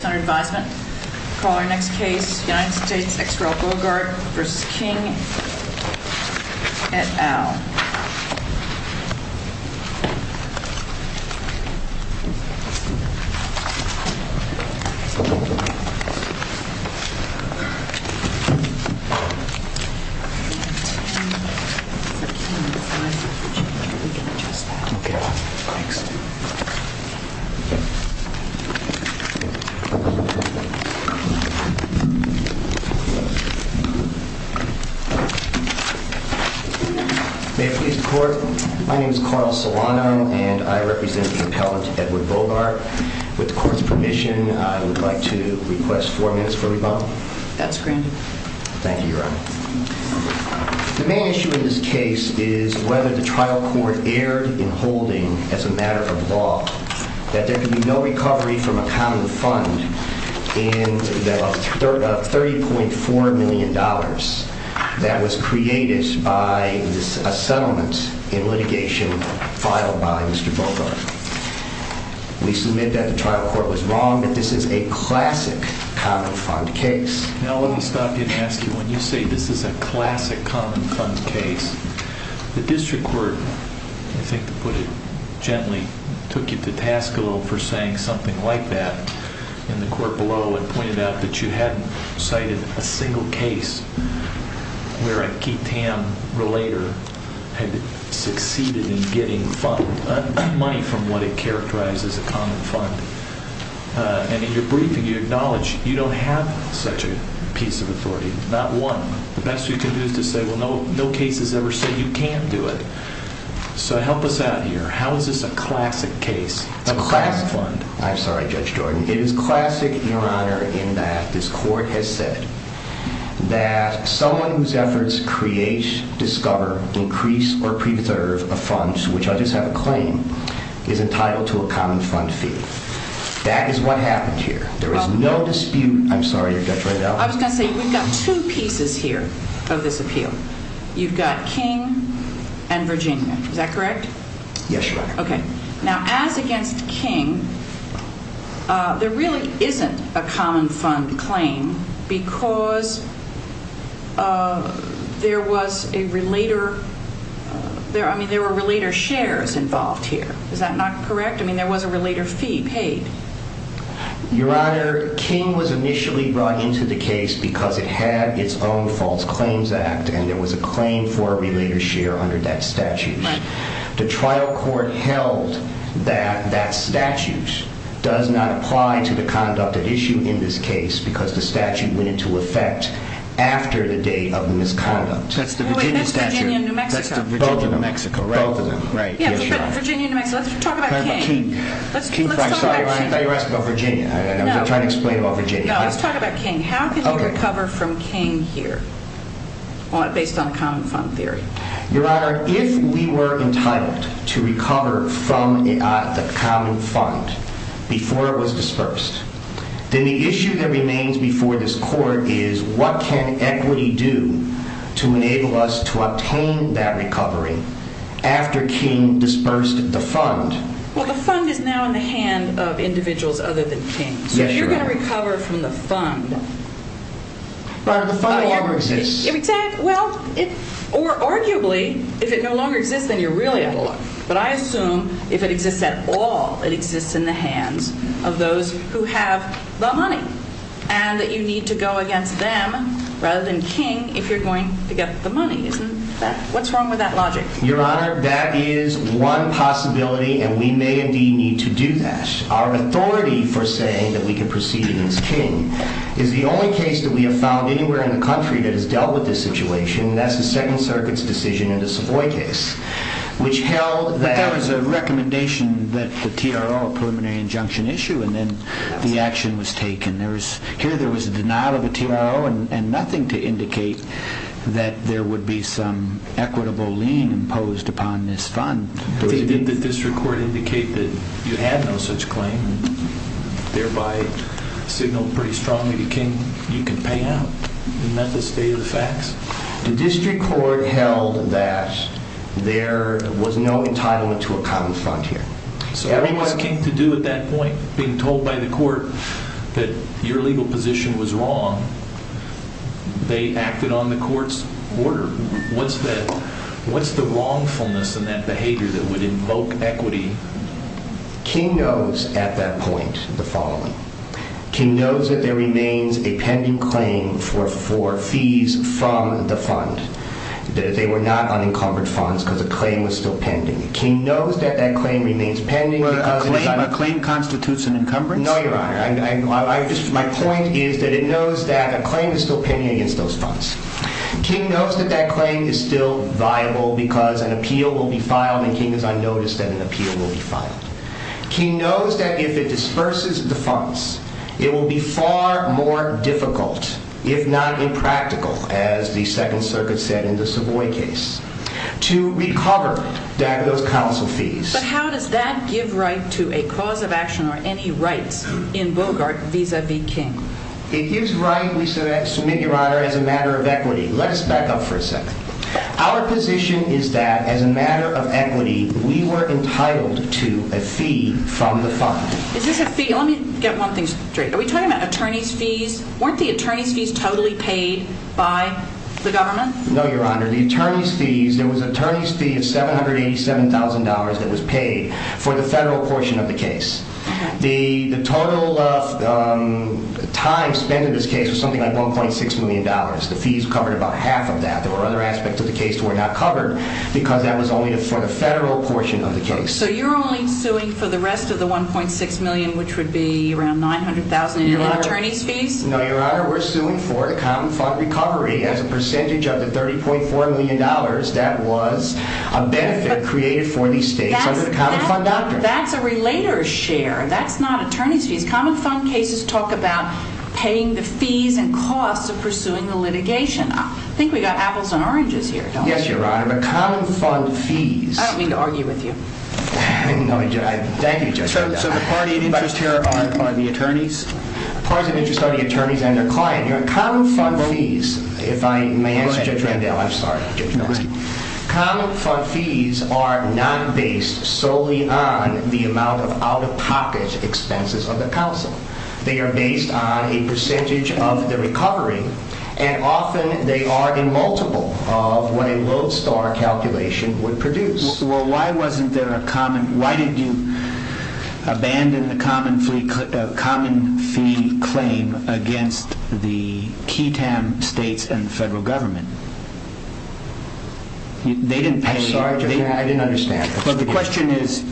Senator Advisement, call our next case, United States v. King et al. May it please the Court, my name is Carl Solanum and I represent the appellant Edward Bogart. With the Court's permission, I would like to request four minutes for rebuttal. That's granted. Thank you, Your Honor. The main issue in this case is whether the trial court erred in holding, as a matter of law, that there can be no recovery from a common fund of $30.4 million that was created by a settlement in litigation filed by Mr. Bogart. We submit that the trial court was wrong, but this is a classic common fund case. Now let me stop you and ask you, when you say this is a classic common fund case, the district court, I think to put it gently, took you to task a little for saying something like that, and the court below had pointed out that you hadn't cited a single case where a key TAM relator had succeeded in getting money from what it characterized as a common fund. And in your briefing you acknowledged you don't have such a piece of authority, not one. The best you can do is to say, well, no case has ever said you can't do it. So help us out here. How is this a classic case? It's a classic fund. I'm sorry, Judge Jordan. It is classic, Your Honor, in that this court has said that someone whose efforts create, discover, increase, or preserve a fund, which I just have a claim, is entitled to a common fund fee. That is what happened here. There is no dispute. I'm sorry, Judge Riedel. I was going to say, we've got two pieces here of this appeal. You've got King and Virginia. Is that correct? Yes, Your Honor. Okay. Now, as against King, there really isn't a common fund claim because there was a relator. I mean, there were relator shares involved here. Is that not correct? I mean, there was a relator fee paid. Your Honor, King was initially brought into the case because it had its own false claims act, and there was a claim for a relator share under that statute. The trial court held that that statute does not apply to the conduct at issue in this case because the statute went into effect after the date of misconduct. That's the Virginia statute. That's Virginia and New Mexico. Both of them. Both of them. Right. Virginia and New Mexico. Let's talk about King. Let's talk about King. I'm sorry, Your Honor. I thought you were asking about Virginia. I was trying to explain about Virginia. No, let's talk about King. How can you recover from King here based on common fund theory? Your Honor, if we were entitled to recover from the common fund before it was dispersed, then the issue that remains before this court is what can equity do to enable us to obtain that recovery after King dispersed the fund? Well, the fund is now in the hand of individuals other than King. Yes, Your Honor. So if you're going to recover from the fund... But the fund no longer exists. Exactly. Well, or arguably, if it no longer exists, then you're really out of luck. But I assume if it exists at all, it exists in the hands of those who have the money and that you need to go against them rather than King if you're going to get the money. What's wrong with that logic? Your Honor, that is one possibility, and we may indeed need to do that. Our authority for saying that we can proceed against King is the only case that we have found anywhere in the country that has dealt with this situation, and that's the Second Circuit's decision in the Savoy case, which held that... But that was a recommendation that the TRO, a preliminary injunction, issued, and then the action was taken. ...that there would be some equitable lien imposed upon this fund. Did the district court indicate that you had no such claim, thereby signal pretty strongly to King you can pay out? Isn't that the state of the facts? The district court held that there was no entitlement to a common fund here. So what was King to do at that point? Being told by the court that your legal position was wrong, they acted on the court's order. What's the wrongfulness in that behavior that would invoke equity? King knows at that point the following. King knows that there remains a pending claim for fees from the fund. They were not unencumbered funds because the claim was still pending. King knows that that claim remains pending. No, Your Honor. My point is that it knows that a claim is still pending against those funds. King knows that that claim is still viable because an appeal will be filed, and King has unnoticed that an appeal will be filed. King knows that if it disperses the funds, it will be far more difficult, if not impractical, as the Second Circuit said in the Savoy case, to recover those counsel fees. But how does that give right to a cause of action or any rights in Bogart vis-à-vis King? It gives right, we submit, Your Honor, as a matter of equity. Let us back up for a second. Our position is that, as a matter of equity, we were entitled to a fee from the fund. Is this a fee? Let me get one thing straight. Are we talking about attorney's fees? Weren't the attorney's fees totally paid by the government? No, Your Honor. There was an attorney's fee of $787,000 that was paid for the federal portion of the case. The total time spent in this case was something like $1.6 million. The fees covered about half of that. There were other aspects of the case that were not covered because that was only for the federal portion of the case. So you're only suing for the rest of the $1.6 million, which would be around $900,000 in attorney's fees? No, Your Honor. Your Honor, we're suing for the common fund recovery as a percentage of the $30.4 million that was a benefit created for these states under the common fund doctrine. That's a relator's share. That's not attorney's fees. Common fund cases talk about paying the fees and costs of pursuing the litigation. I think we've got apples and oranges here, don't we? Yes, Your Honor, but common fund fees— I don't mean to argue with you. Thank you, Judge. So the parties of interest here are the attorneys? Parties of interest are the attorneys and their client. Common fund fees, if I may answer, Judge Randall. I'm sorry. Common fund fees are not based solely on the amount of out-of-pocket expenses of the counsel. They are based on a percentage of the recovery, and often they are a multiple of what a lodestar calculation would produce. Well, why didn't you abandon the common fee claim against the key time states and the federal government? I'm sorry, Judge Randall, I didn't understand. The question is,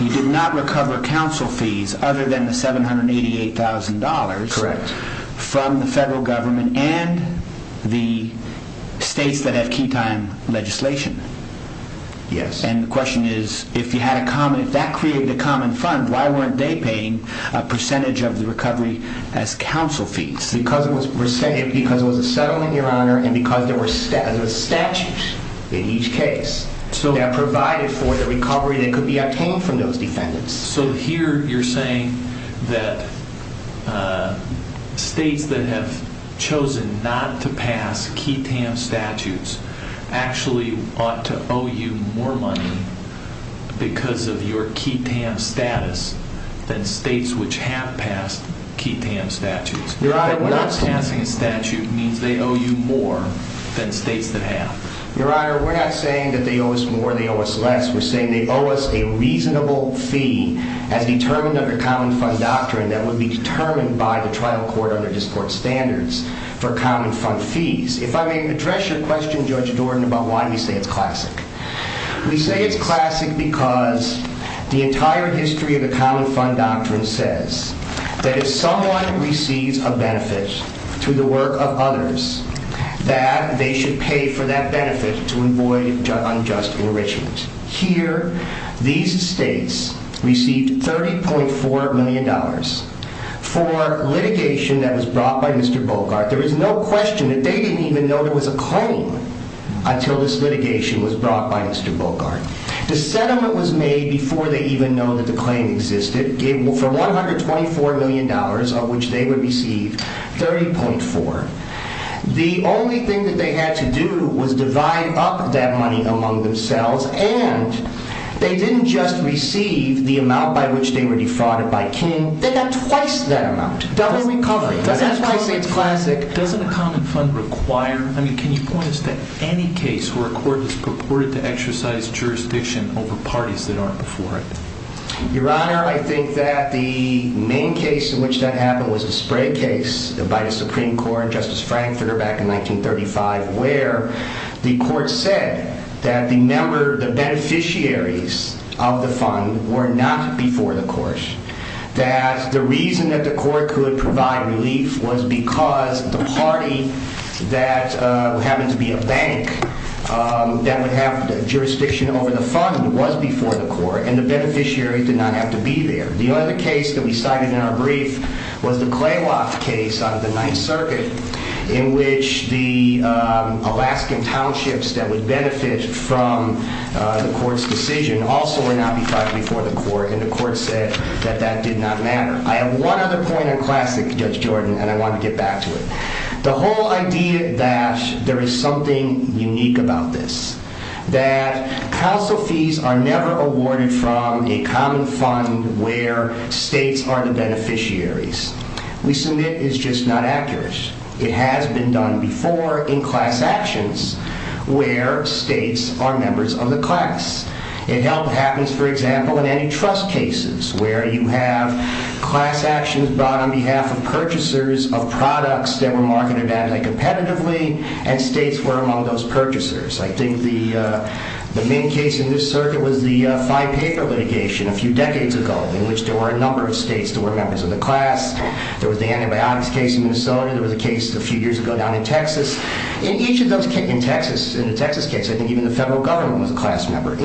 you did not recover counsel fees other than the $788,000 from the federal government and the states that have key time legislation. Yes. And the question is, if that created a common fund, why weren't they paying a percentage of the recovery as counsel fees? Because it was a settlement, Your Honor, and because there were statutes in each case that provided for the recovery that could be obtained from those defendants. So here you're saying that states that have chosen not to pass key time statutes actually ought to owe you more money because of your key time status than states which have passed key time statutes. Your Honor, we're not saying that. But not passing a statute means they owe you more than states that have. Your Honor, we're not saying that they owe us more or they owe us less. We're saying they owe us a reasonable fee as determined under common fund doctrine that would be determined by the trial court under this court's standards for common fund fees. If I may address your question, Judge Jordan, about why we say it's classic. We say it's classic because the entire history of the common fund doctrine says that if someone receives a benefit through the work of others, that they should pay for that benefit to avoid unjust enrichment. Here, these states received $30.4 million for litigation that was brought by Mr. Bogart. There is no question that they didn't even know there was a claim until this litigation was brought by Mr. Bogart. The settlement was made before they even know that the claim existed for $124 million of which they would receive $30.4. The only thing that they had to do was divide up that money among themselves and they didn't just receive the amount by which they were defrauded by King. They got twice that amount. Double recovery. That's why I say it's classic. Doesn't a common fund require, I mean, can you point us to any case where a court is purported to exercise jurisdiction over parties that aren't before it? Your Honor, I think that the main case in which that happened was the Sprague case by the Supreme Court and Justice Frankfurter back in 1935 where the court said that the beneficiaries of the fund were not before the court, that the reason that the court could provide relief was because the party that happened to be a bank that would have the jurisdiction over the fund was before the court and the beneficiary did not have to be there. The other case that we cited in our brief was the Claywalk case out of the Ninth Circuit in which the Alaskan townships that would benefit from the court's decision also were not before the court and the court said that that did not matter. I have one other point on classic, Judge Jordan, and I want to get back to it. The whole idea that there is something unique about this, that council fees are never awarded from a common fund where states are the beneficiaries, we submit is just not accurate. It has been done before in class actions where states are members of the class. It happens, for example, in antitrust cases where you have class actions brought on behalf of purchasers of products that were marketed anti-competitively and states were among those purchasers. I think the main case in this circuit was the five-paper litigation a few decades ago in which there were a number of states that were members of the class. There was the antibiotics case in Minnesota. There was a case a few years ago down in Texas. In each of those cases, in the Texas case, I think even the federal government was a class member, it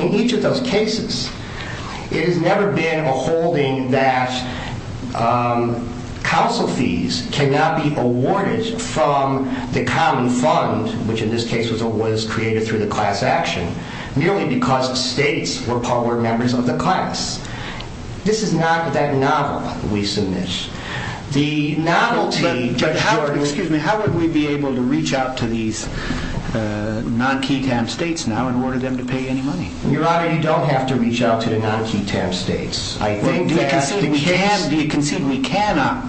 has never been a holding that council fees cannot be awarded from the common fund, which in this case was created through the class action, merely because states were members of the class. This is not that novel we submit. How would we be able to reach out to these non-QTAM states now and order them to pay any money? Your Honor, you don't have to reach out to the non-QTAM states. Do you concede we cannot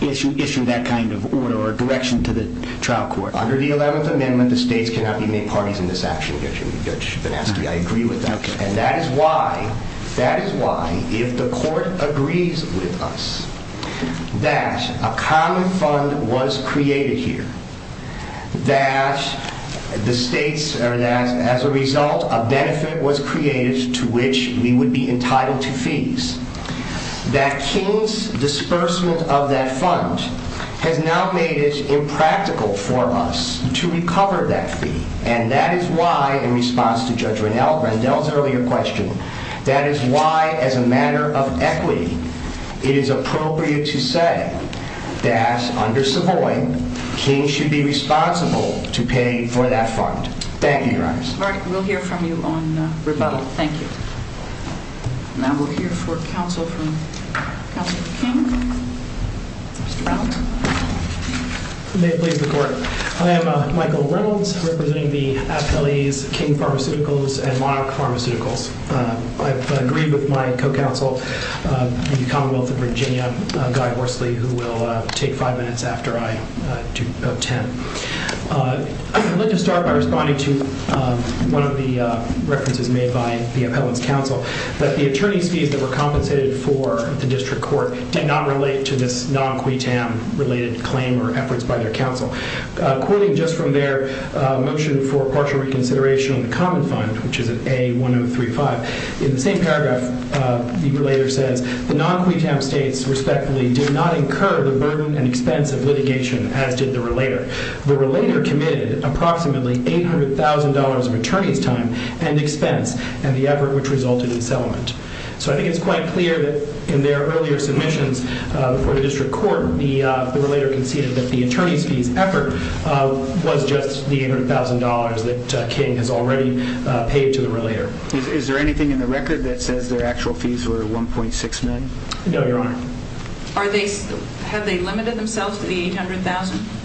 issue that kind of order or direction to the trial court? Under the 11th Amendment, the states cannot be made parties in this action, Judge Benaski. I agree with that. That is why, if the court agrees with us that a common fund was created here, that as a result, a benefit was created to which we would be entitled to fees, that King's disbursement of that fund has now made it impractical for us to recover that fee. And that is why, in response to Judge Rendell's earlier question, that is why, as a matter of equity, it is appropriate to say that, under Savoy, King should be responsible to pay for that fund. Thank you, Your Honor. All right. We'll hear from you on rebuttal. Thank you. Now we'll hear for counsel from counsel for King. Mr. Brown. May it please the Court. I am Michael Reynolds, representing the appellees King Pharmaceuticals and Monarch Pharmaceuticals. I've agreed with my co-counsel in the Commonwealth of Virginia, Guy Horsley, who will take five minutes after I do about ten. I'd like to start by responding to one of the references made by the appellant's counsel, that the attorney's fees that were compensated for at the district court did not relate to this non-QUTAM-related claim or efforts by their counsel. Quoting just from their motion for partial reconsideration on the Common Fund, which is at A1035, in the same paragraph, the relater says, the non-QUTAM states, respectfully, did not incur the burden and expense of litigation, as did the relater. The relater committed approximately $800,000 of attorney's time and expense, and the effort which resulted in settlement. So I think it's quite clear that in their earlier submissions for the district court, the relater conceded that the attorney's fees effort was just the $800,000 that King has already paid to the relater. Is there anything in the record that says their actual fees were $1.6 million? No, Your Honor. Have they limited themselves to the $800,000?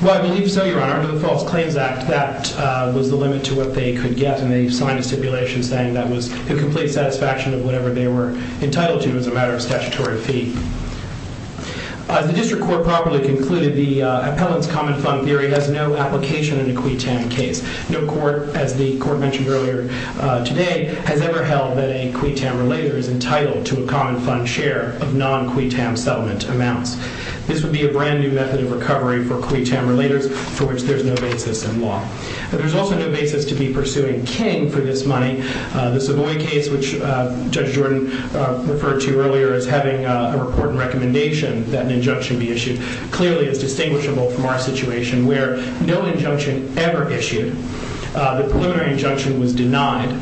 Well, I believe so, Your Honor. Under the False Claims Act, that was the limit to what they could get, and they signed a stipulation saying that was the complete satisfaction of whatever they were entitled to as a matter of statutory fee. As the district court properly concluded, the appellant's Common Fund theory has no application in a QUTAM case. No court, as the court mentioned earlier today, has ever held that a QUTAM relater is entitled to a Common Fund share of non-QUTAM settlement amounts. This would be a brand new method of recovery for QUTAM relaters for which there's no basis in law. There's also no basis to be pursuing King for this money. The Savoy case, which Judge Jordan referred to earlier as having a report and recommendation that an injunction be issued, clearly is distinguishable from our situation where no injunction ever issued. The preliminary injunction was denied.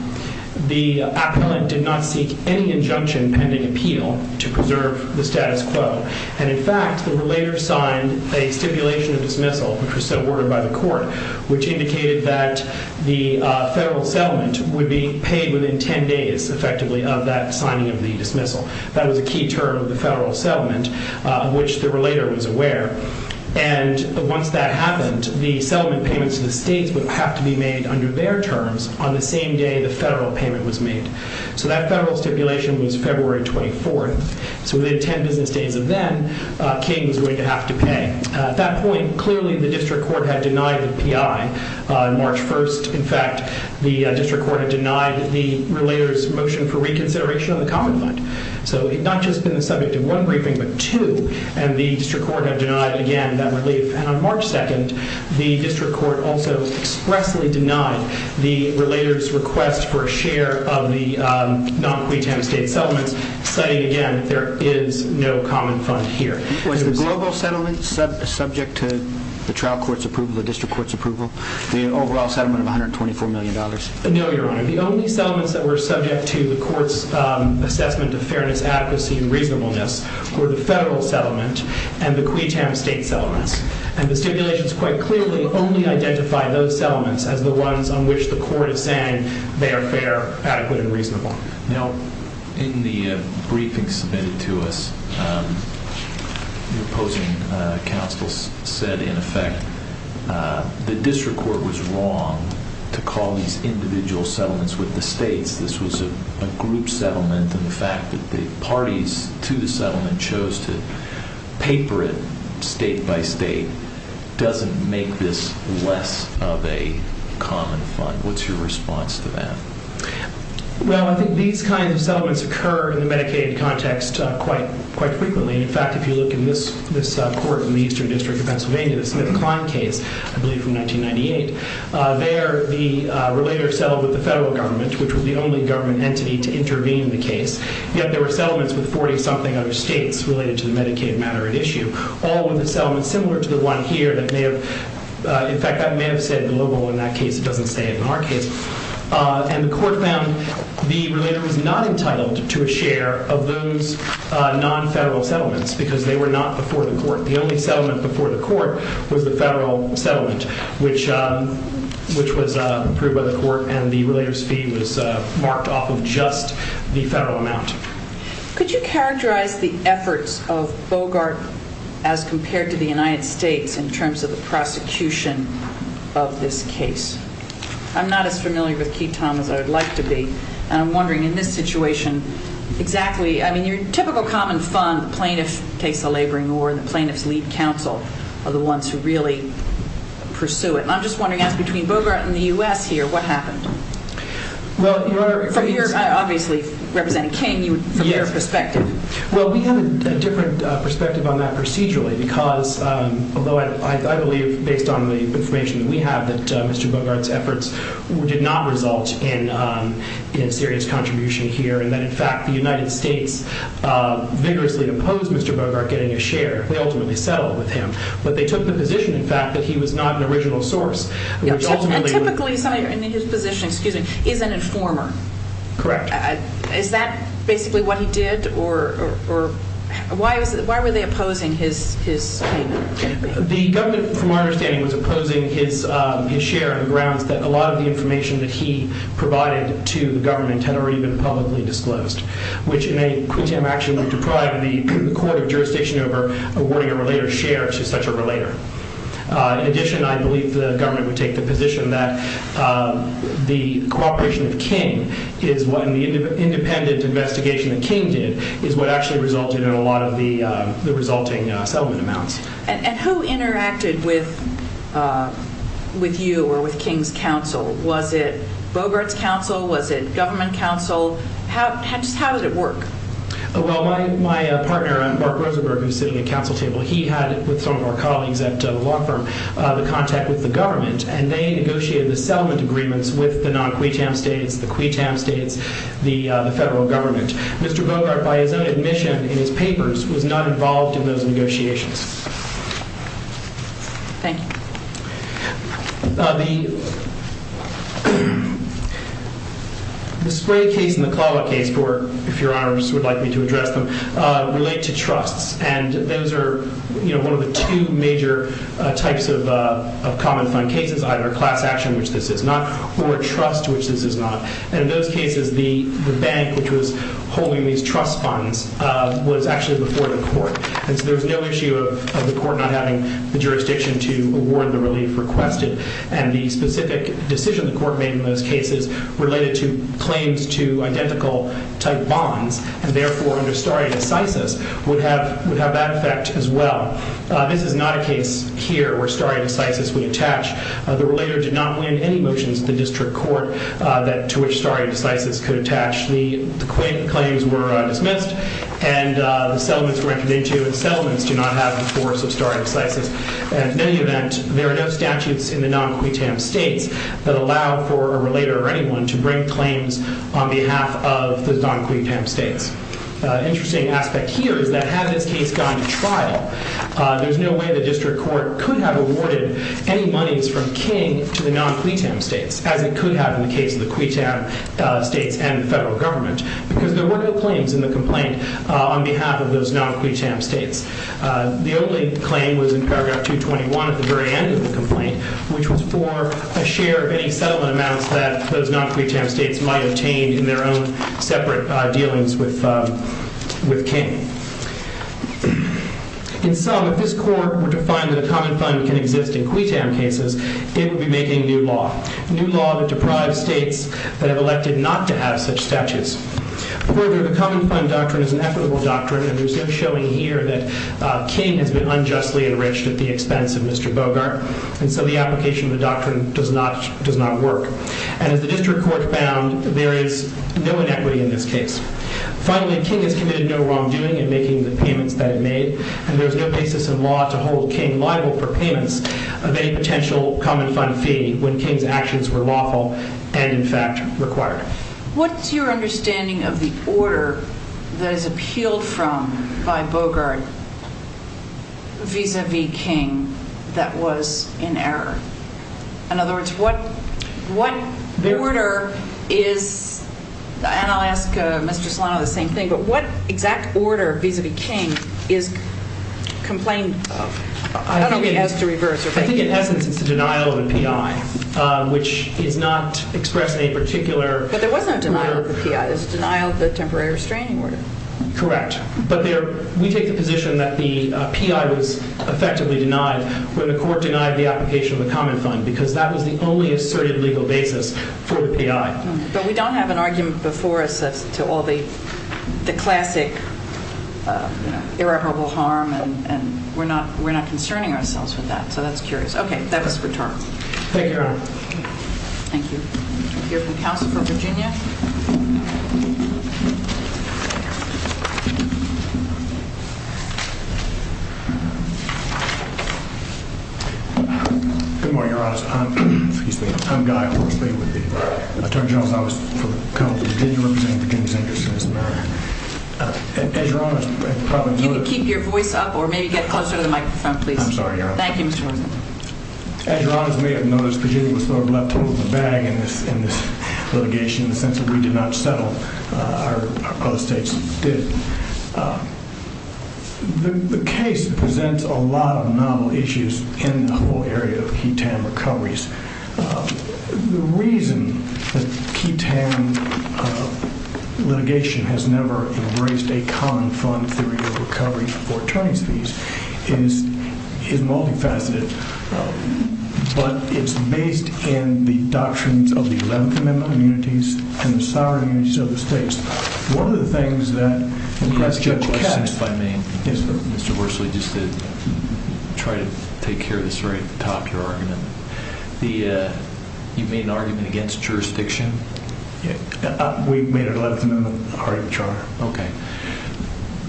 The appellant did not seek any injunction pending appeal to preserve the status quo. And in fact, the relater signed a stipulation of dismissal, which was so ordered by the court, which indicated that the federal settlement would be paid within 10 days, effectively, of that signing of the dismissal. That was a key term of the federal settlement, of which the relater was aware. And once that happened, the settlement payments to the states would have to be made under their terms on the same day the federal payment was made. So that federal stipulation was February 24th. So within 10 business days of then, King was going to have to pay. At that point, clearly the district court had denied the PI on March 1st. In fact, the district court had denied the relater's motion for reconsideration of the common fund. So it had not just been the subject of one briefing, but two. And the district court had denied, again, that relief. And on March 2nd, the district court also expressly denied the relater's request for a share of the non-QUTAM state settlements, citing, again, that there is no common fund here. Was the global settlement subject to the trial court's approval, the district court's approval, the overall settlement of $124 million? No, Your Honor. The only settlements that were subject to the court's assessment of fairness, adequacy, and reasonableness were the federal settlement and the QUTAM state settlements. And the stipulations quite clearly only identify those settlements as the ones on which the court is saying they are fair, adequate, and reasonable. Now, in the briefing submitted to us, the opposing counsel said, in effect, the district court was wrong to call these individual settlements with the states. This was a group settlement. And the fact that the parties to the settlement chose to paper it state by state doesn't make this less of a common fund. What's your response to that? Well, I think these kinds of settlements occur in the Medicaid context quite frequently. In fact, if you look in this court in the Eastern District of Pennsylvania, the Smith-Klein case, I believe from 1998, there the relater settled with the federal government, which was the only government entity to intervene in the case. Yet there were settlements with 40-something other states related to the Medicaid matter at issue, all with a settlement similar to the one here that may have, in fact, that may have said global in that case. It doesn't say it in our case. And the court found the relater was not entitled to a share of those non-federal settlements because they were not before the court. The only settlement before the court was the federal settlement, which was approved by the court, and the relater's fee was marked off of just the federal amount. Could you characterize the efforts of Bogart as compared to the United States in terms of the prosecution of this case? I'm not as familiar with Quitom as I would like to be, and I'm wondering in this situation exactly. I mean, your typical common fund, the plaintiff takes the laboring or the plaintiff's lead counsel are the ones who really pursue it. And I'm just wondering, as between Bogart and the U.S. here, what happened? Well, Your Honor, from your, obviously, representing King, from your perspective. Well, we have a different perspective on that procedurally because, although I believe, based on the information that we have, that Mr. Bogart's efforts did not result in serious contribution here, and that, in fact, the United States vigorously opposed Mr. Bogart getting a share. They ultimately settled with him. But they took the position, in fact, that he was not an original source. And typically somebody in his position, excuse me, is an informer. Correct. Is that basically what he did, or why were they opposing his payment? The government, from our understanding, was opposing his share on the grounds that a lot of the information that he provided to the government had already been publicly disclosed, which in a quid tem action would deprive the court of jurisdiction over awarding a related share to such a relator. In addition, I believe the government would take the position that the cooperation of King and the independent investigation that King did is what actually resulted in a lot of the resulting settlement amounts. And who interacted with you or with King's counsel? Was it Bogart's counsel? Was it government counsel? How did it work? Well, my partner, Bart Rosenberg, who's sitting at the counsel table, he had, with some of our colleagues at the law firm, the contact with the government. And they negotiated the settlement agreements with the non-quid tem states, the quid tem states, the federal government. Mr. Bogart, by his own admission in his papers, was not involved in those negotiations. Thank you. The Spray case and the Clawitt case, if your honors would like me to address them, relate to trusts. And those are one of the two major types of common fund cases, either class action, which this is not, or trust, which this is not. And in those cases, the bank, which was holding these trust funds, was actually before the court. And so there was no issue of the court not having the jurisdiction to award the relief requested. And the specific decision the court made in those cases related to claims to identical type bonds, and therefore under stare decisis, would have that effect as well. This is not a case here where stare decisis would attach. The relator did not win any motions at the district court to which stare decisis could attach. The claims were dismissed, and the settlements were entered into. And settlements do not have the force of stare decisis. In any event, there are no statutes in the non-quid tem states that allow for a relator or anyone to bring claims on behalf of the non-quid tem states. Interesting aspect here is that had this case gone to trial, there's no way the district court could have awarded any monies from King to the non-quid tem states, as it could have in the case of the quid tem states and the federal government, because there were no claims in the complaint on behalf of those non-quid tem states. The only claim was in paragraph 221 at the very end of the complaint, which was for a share of any settlement amounts that those non-quid tem states might obtain in their own separate dealings with King. In sum, if this court were to find that a common fund can exist in quid tem cases, it would be making new law. New law that deprives states that have elected not to have such statutes. Further, the common fund doctrine is an equitable doctrine, and there's no showing here that King has been unjustly enriched at the expense of Mr. Bogart. And so the application of the doctrine does not work. And as the district court found, there is no inequity in this case. Finally, King has committed no wrongdoing in making the payments that it made, and there's no basis in law to hold King liable for payments of any potential common fund fee when King's actions were lawful and, in fact, required. What's your understanding of the order that is appealed from by Bogart vis-à-vis King that was in error? In other words, what order is—and I'll ask Mr. Solano the same thing—but what exact order vis-à-vis King is complained of? I think in essence it's the denial of a P.I., which is not expressed in a particular order. But there was no denial of the P.I. It's denial of the temporary restraining order. Correct. But we take the position that the P.I. was effectively denied when the court denied the application of the common fund, because that was the only asserted legal basis for the P.I. But we don't have an argument before us as to all the classic irreparable harm, and we're not concerning ourselves with that. So that's curious. Okay, that was for Turner. Thank you, Your Honor. Thank you. We'll hear from counsel for Virginia. Good morning, Your Honor. I'm Guy Horsby with the Attorney General's Office for the Commonwealth of Virginia, representing Virginia's interest in this matter. You can keep your voice up or maybe get closer to the microphone, please. I'm sorry, Your Honor. Thank you, Mr. Horsby. As Your Honor may have noticed, Virginia was sort of left with a bag in this litigation in the sense that we did not settle. Our other states did. The case presents a lot of novel issues in the whole area of key TAM recoveries. The reason that key TAM litigation has never embraced a common fund theory of recovery for attorneys' fees is multifaceted, but it's based in the doctrines of the Eleventh Amendment immunities and the sovereign immunities of the states. One of the things that— Let me ask you a question, if I may. Yes, sir. Mr. Horsby, just to try to take care of this right at the top, your argument. You made an argument against jurisdiction? We made an Eleventh Amendment article of the Charter. Okay.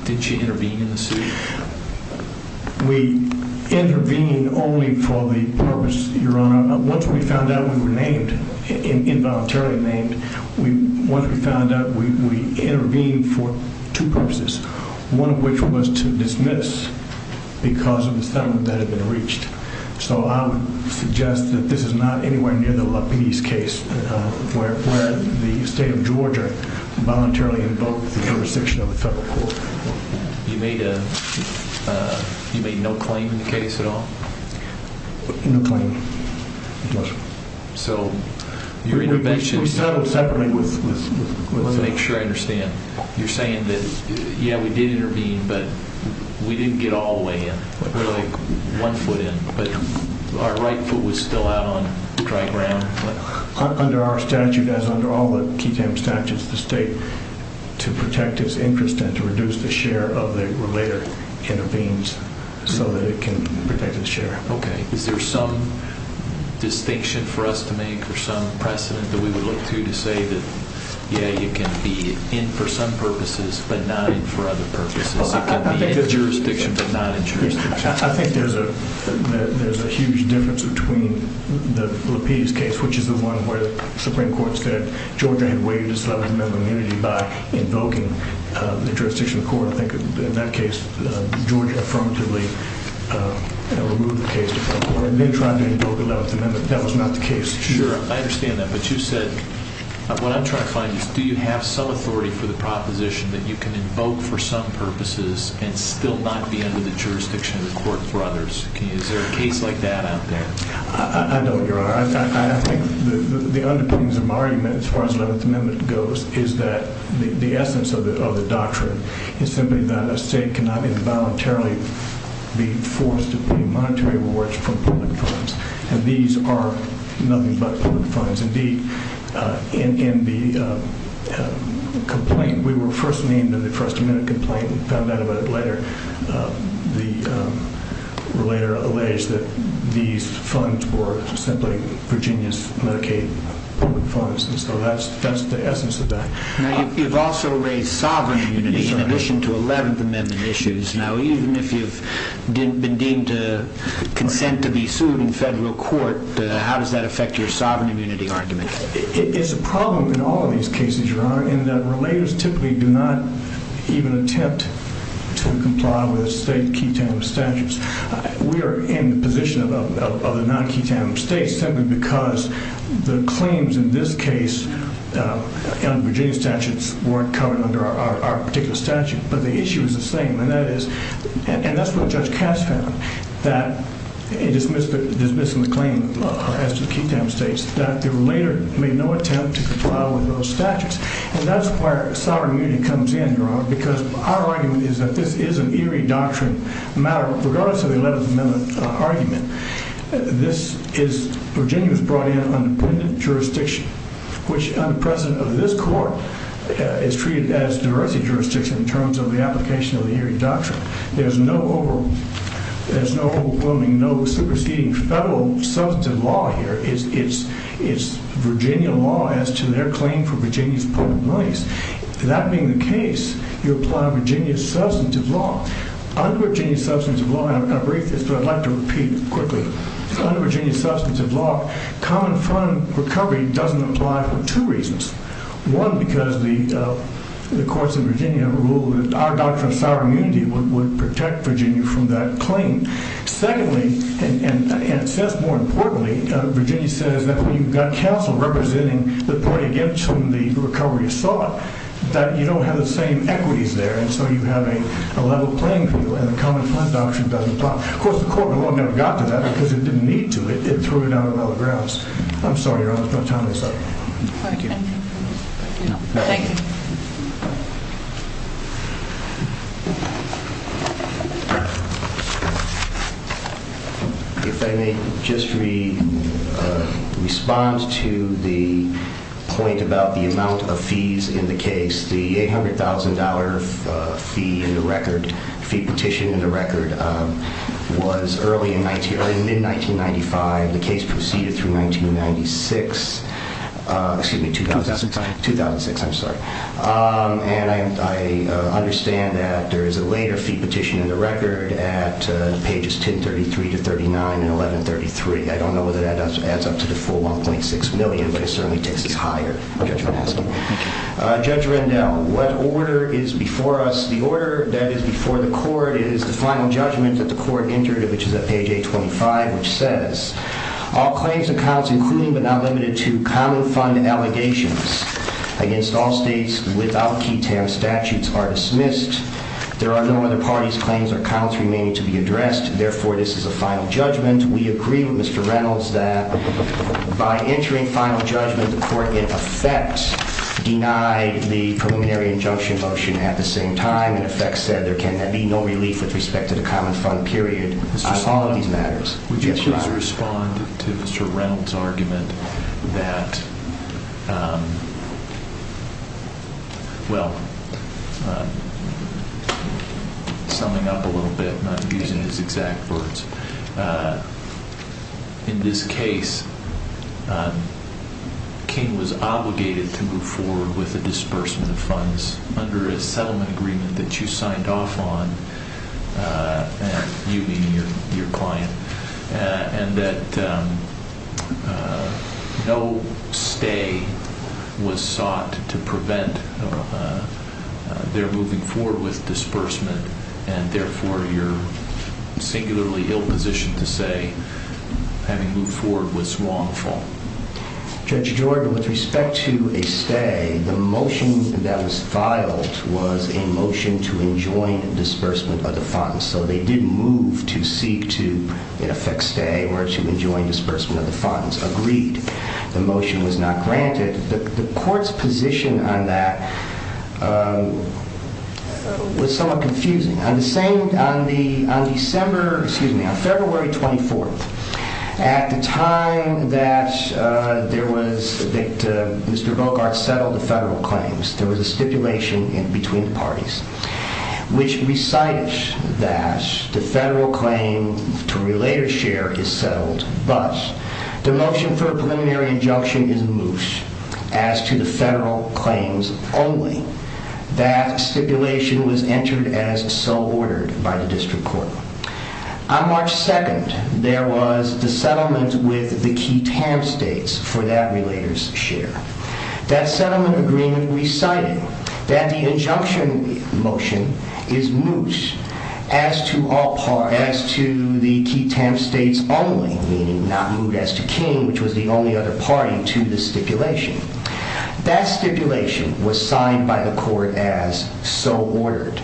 Did she intervene in the suit? We intervened only for the purpose, Your Honor. Once we found out we were named, involuntarily named, once we found out, we intervened for two purposes, one of which was to dismiss because of the settlement that had been reached. So I would suggest that this is not anywhere near the Lapidus case where the state of Georgia voluntarily invoked the jurisdiction of the federal court. You made no claim in the case at all? No claim. So your intervention— We settled separately with— Let's make sure I understand. You're saying that, yeah, we did intervene, but we didn't get all the way in. We're like one foot in, but our right foot was still out on dry ground. Under our statute, as under all the QUTAM statutes, the state, to protect its interest and to reduce the share of the relator, intervenes so that it can protect its share. Okay. Is there some distinction for us to make or some precedent that we would look to to say that, yeah, you can be in for some purposes but not in for other purposes? It can be in jurisdiction but not in jurisdiction. I think there's a huge difference between the Lapidus case, which is the one where the Supreme Court said Georgia had waived its 11th Amendment immunity by invoking the jurisdiction of the court. I think in that case, Georgia affirmatively removed the case. They tried to invoke the 11th Amendment. That was not the case. Sure. I understand that. But you said—what I'm trying to find is do you have some authority for the proposition that you can invoke for some purposes and still not be under the jurisdiction of the court for others? Is there a case like that out there? I don't, Your Honor. I think the underpinnings of my argument as far as the 11th Amendment goes is that the essence of the doctrine is simply that a state cannot involuntarily be forced to pay monetary rewards from public funds, and these are nothing but public funds. Indeed, in the complaint—we were first named in the first amendment complaint and found out about it later—we were later alleged that these funds were simply Virginia's Medicaid public funds. So that's the essence of that. Now, you've also raised sovereign immunity in addition to 11th Amendment issues. Now, even if you've been deemed to consent to be sued in federal court, how does that affect your sovereign immunity argument? It's a problem in all of these cases, Your Honor, in that relators typically do not even attempt to comply with state ketamine statutes. We are in the position of the non-ketamine states simply because the claims in this case on Virginia statutes weren't covered under our particular statute. But the issue is the same, and that is—and that's what Judge Cass found, that in dismissing the claim as to the ketamine states, that the relator made no attempt to comply with those statutes. And that's where sovereign immunity comes in, Your Honor, because our argument is that this is an Erie Doctrine matter, regardless of the 11th Amendment argument. This is—Virginia was brought in on independent jurisdiction, which, under the president of this court, is treated as diversity jurisdiction in terms of the application of the Erie Doctrine. There's no overwhelming, no superseding federal substantive law here. It's Virginia law as to their claim for Virginia's public monies. That being the case, you apply Virginia's substantive law. Under Virginia's substantive law—and I'll brief this, but I'd like to repeat it quickly. Under Virginia's substantive law, common fund recovery doesn't apply for two reasons. One, because the courts of Virginia rule that our doctrine of sovereign immunity would protect Virginia from that claim. Secondly, and since more importantly, Virginia says that when you've got counsel representing the party against whom the recovery is sought, that you don't have the same equities there. And so you have a level playing field, and the common fund doctrine doesn't apply. Of course, the court of law never got to that because it didn't need to. It threw it out of all the grounds. I'm sorry. I don't have time for this. If I may just respond to the point about the amount of fees in the case. The $800,000 fee petition in the record was in mid-1995. The case proceeded through 1996. Excuse me. 2006. 2006, I'm sorry. And I understand that there is a later fee petition in the record at pages 1033 to 39 and 1133. I don't know whether that adds up to the full $1.6 million, but it certainly takes us higher. Judge Rendell, what order is before us? The order that is before the court is the final judgment that the court entered, which is at page 825, which says, All claims and counts, including but not limited to common fund allegations against all states without key TAM statutes, are dismissed. There are no other parties, claims, or counts remaining to be addressed. Therefore, this is a final judgment. We agree with Mr. Reynolds that by entering final judgment, the court in effect denied the preliminary injunction motion at the same time. In effect said there can be no relief with respect to the common fund period. Would you please respond to Mr. Reynolds' argument that, well, summing up a little bit, and I'm using his exact words. In this case, King was obligated to move forward with a disbursement of funds under a settlement agreement that you signed off on. You, meaning your client, and that no stay was sought to prevent their moving forward with disbursement. And therefore, you're singularly ill-positioned to say having moved forward was wrongful. Judge Jordan, with respect to a stay, the motion that was filed was a motion to enjoin disbursement of the funds. So they did move to seek to, in effect, stay or to enjoin disbursement of the funds. Agreed. The motion was not granted. The court's position on that was somewhat confusing. On the same, on the, on December, excuse me, on February 24th, at the time that there was, that Mr. Bogart settled the federal claims, there was a stipulation in between the parties, which recited that the federal claim to relate or share is settled, but the motion for a preliminary injunction is moot as to the federal claims only. That stipulation was entered as so ordered by the district court. On March 2nd, there was the settlement with the key TAM states for that relator's share. That settlement agreement recited that the injunction motion is moot as to all parties, as to the key TAM states only, meaning not moot as to King, which was the only other party to the stipulation. That stipulation was signed by the court as so ordered.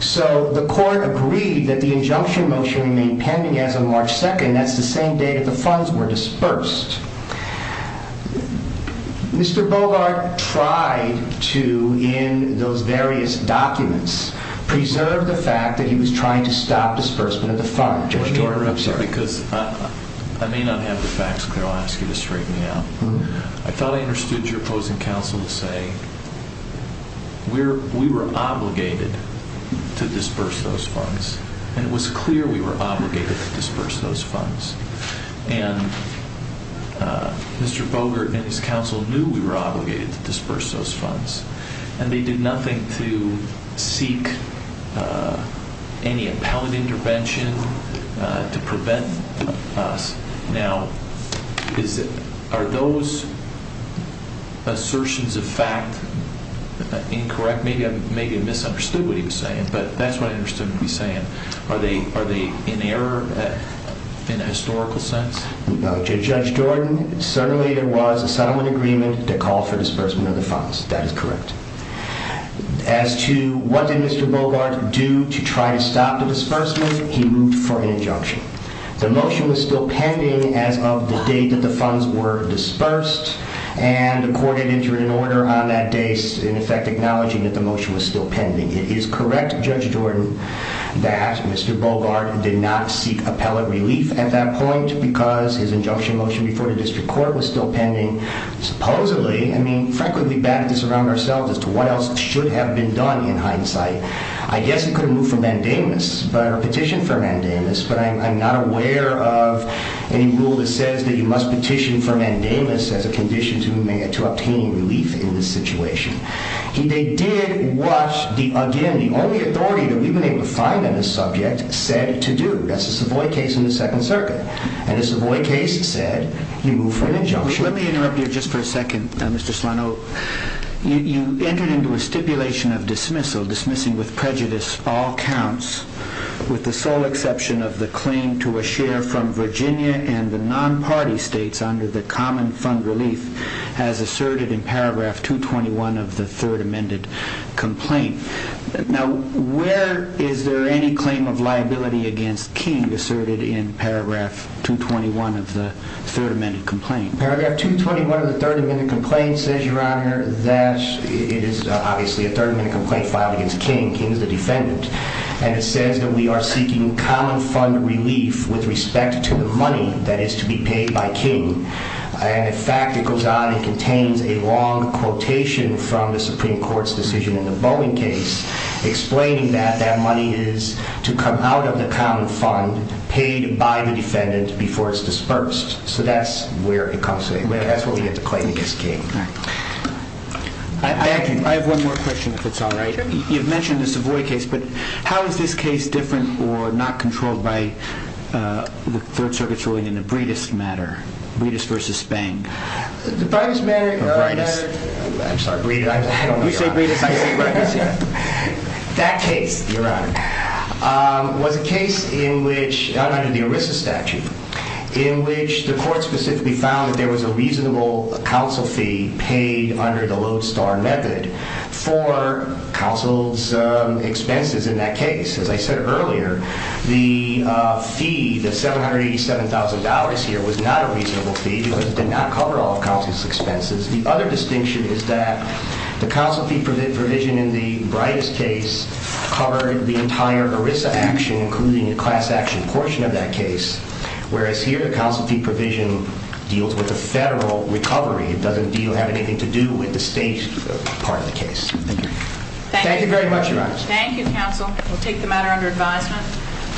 So the court agreed that the injunction motion remained pending as of March 2nd. That's the same day that the funds were disbursed. Mr. Bogart tried to, in those various documents, preserve the fact that he was trying to stop disbursement of the funds. Because I may not have the facts clear, I'll ask you to straighten me out. I thought I understood your opposing counsel to say we were obligated to disburse those funds, and it was clear we were obligated to disburse those funds. And Mr. Bogart and his counsel knew we were obligated to disburse those funds. And they did nothing to seek any appellate intervention to prevent us. Now, are those assertions of fact incorrect? Maybe I misunderstood what he was saying, but that's what I understood him to be saying. Are they in error in a historical sense? Judge Jordan, certainly there was a settlement agreement to call for disbursement of the funds. That is correct. As to what did Mr. Bogart do to try to stop the disbursement, he moved for an injunction. The motion was still pending as of the day that the funds were disbursed. And the court had entered an order on that day, in effect, acknowledging that the motion was still pending. It is correct, Judge Jordan, that Mr. Bogart did not seek appellate relief at that point because his injunction motion before the district court was still pending. Supposedly, I mean, frankly, we batted this around ourselves as to what else should have been done in hindsight. I guess he could have moved for mandamus or petitioned for mandamus, but I'm not aware of any rule that says that you must petition for mandamus as a condition to obtain relief in this situation. They did what, again, the only authority that we've been able to find on this subject said to do. That's the Savoy case in the Second Circuit. And the Savoy case said he moved for an injunction. Let me interrupt you just for a second, Mr. Solano. You entered into a stipulation of dismissal, dismissing with prejudice all counts, with the sole exception of the claim to a share from Virginia and the non-party states under the common fund relief, as asserted in paragraph 221 of the third amended complaint. Now, where is there any claim of liability against King asserted in paragraph 221 of the third amended complaint? Paragraph 221 of the third amended complaint says, Your Honor, that it is obviously a third amendment complaint filed against King. King is the defendant. And it says that we are seeking common fund relief with respect to the money that is to be paid by King. And, in fact, it goes on, it contains a long quotation from the Supreme Court's decision in the Boeing case explaining that that money is to come out of the common fund paid by the defendant before it's dispersed. So that's where it comes from. That's what we have to claim against King. Thank you. I have one more question, if it's all right. You've mentioned the Savoy case, but how is this case different or not controlled by the Third Circuit's ruling in the Breedist matter? Breedist versus Spang. The Breedist matter, Your Honor, I'm sorry, Breedist. You say Breedist, I say Breidist. That case, Your Honor, was a case in which, under the ERISA statute, in which the court specifically found that there was a reasonable counsel fee paid under the Lodestar method for counsel's expenses in that case. As I said earlier, the fee, the $787,000 here, was not a reasonable fee because it did not cover all of counsel's expenses. The other distinction is that the counsel fee provision in the Breidist case covered the entire ERISA action, including the class action portion of that case, whereas here the counsel fee provision deals with the federal recovery. It doesn't have anything to do with the state part of the case. Thank you. Thank you very much, Your Honor. Thank you, counsel. We'll take the matter under advisement.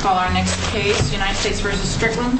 Call our next case, United States v. Strickland.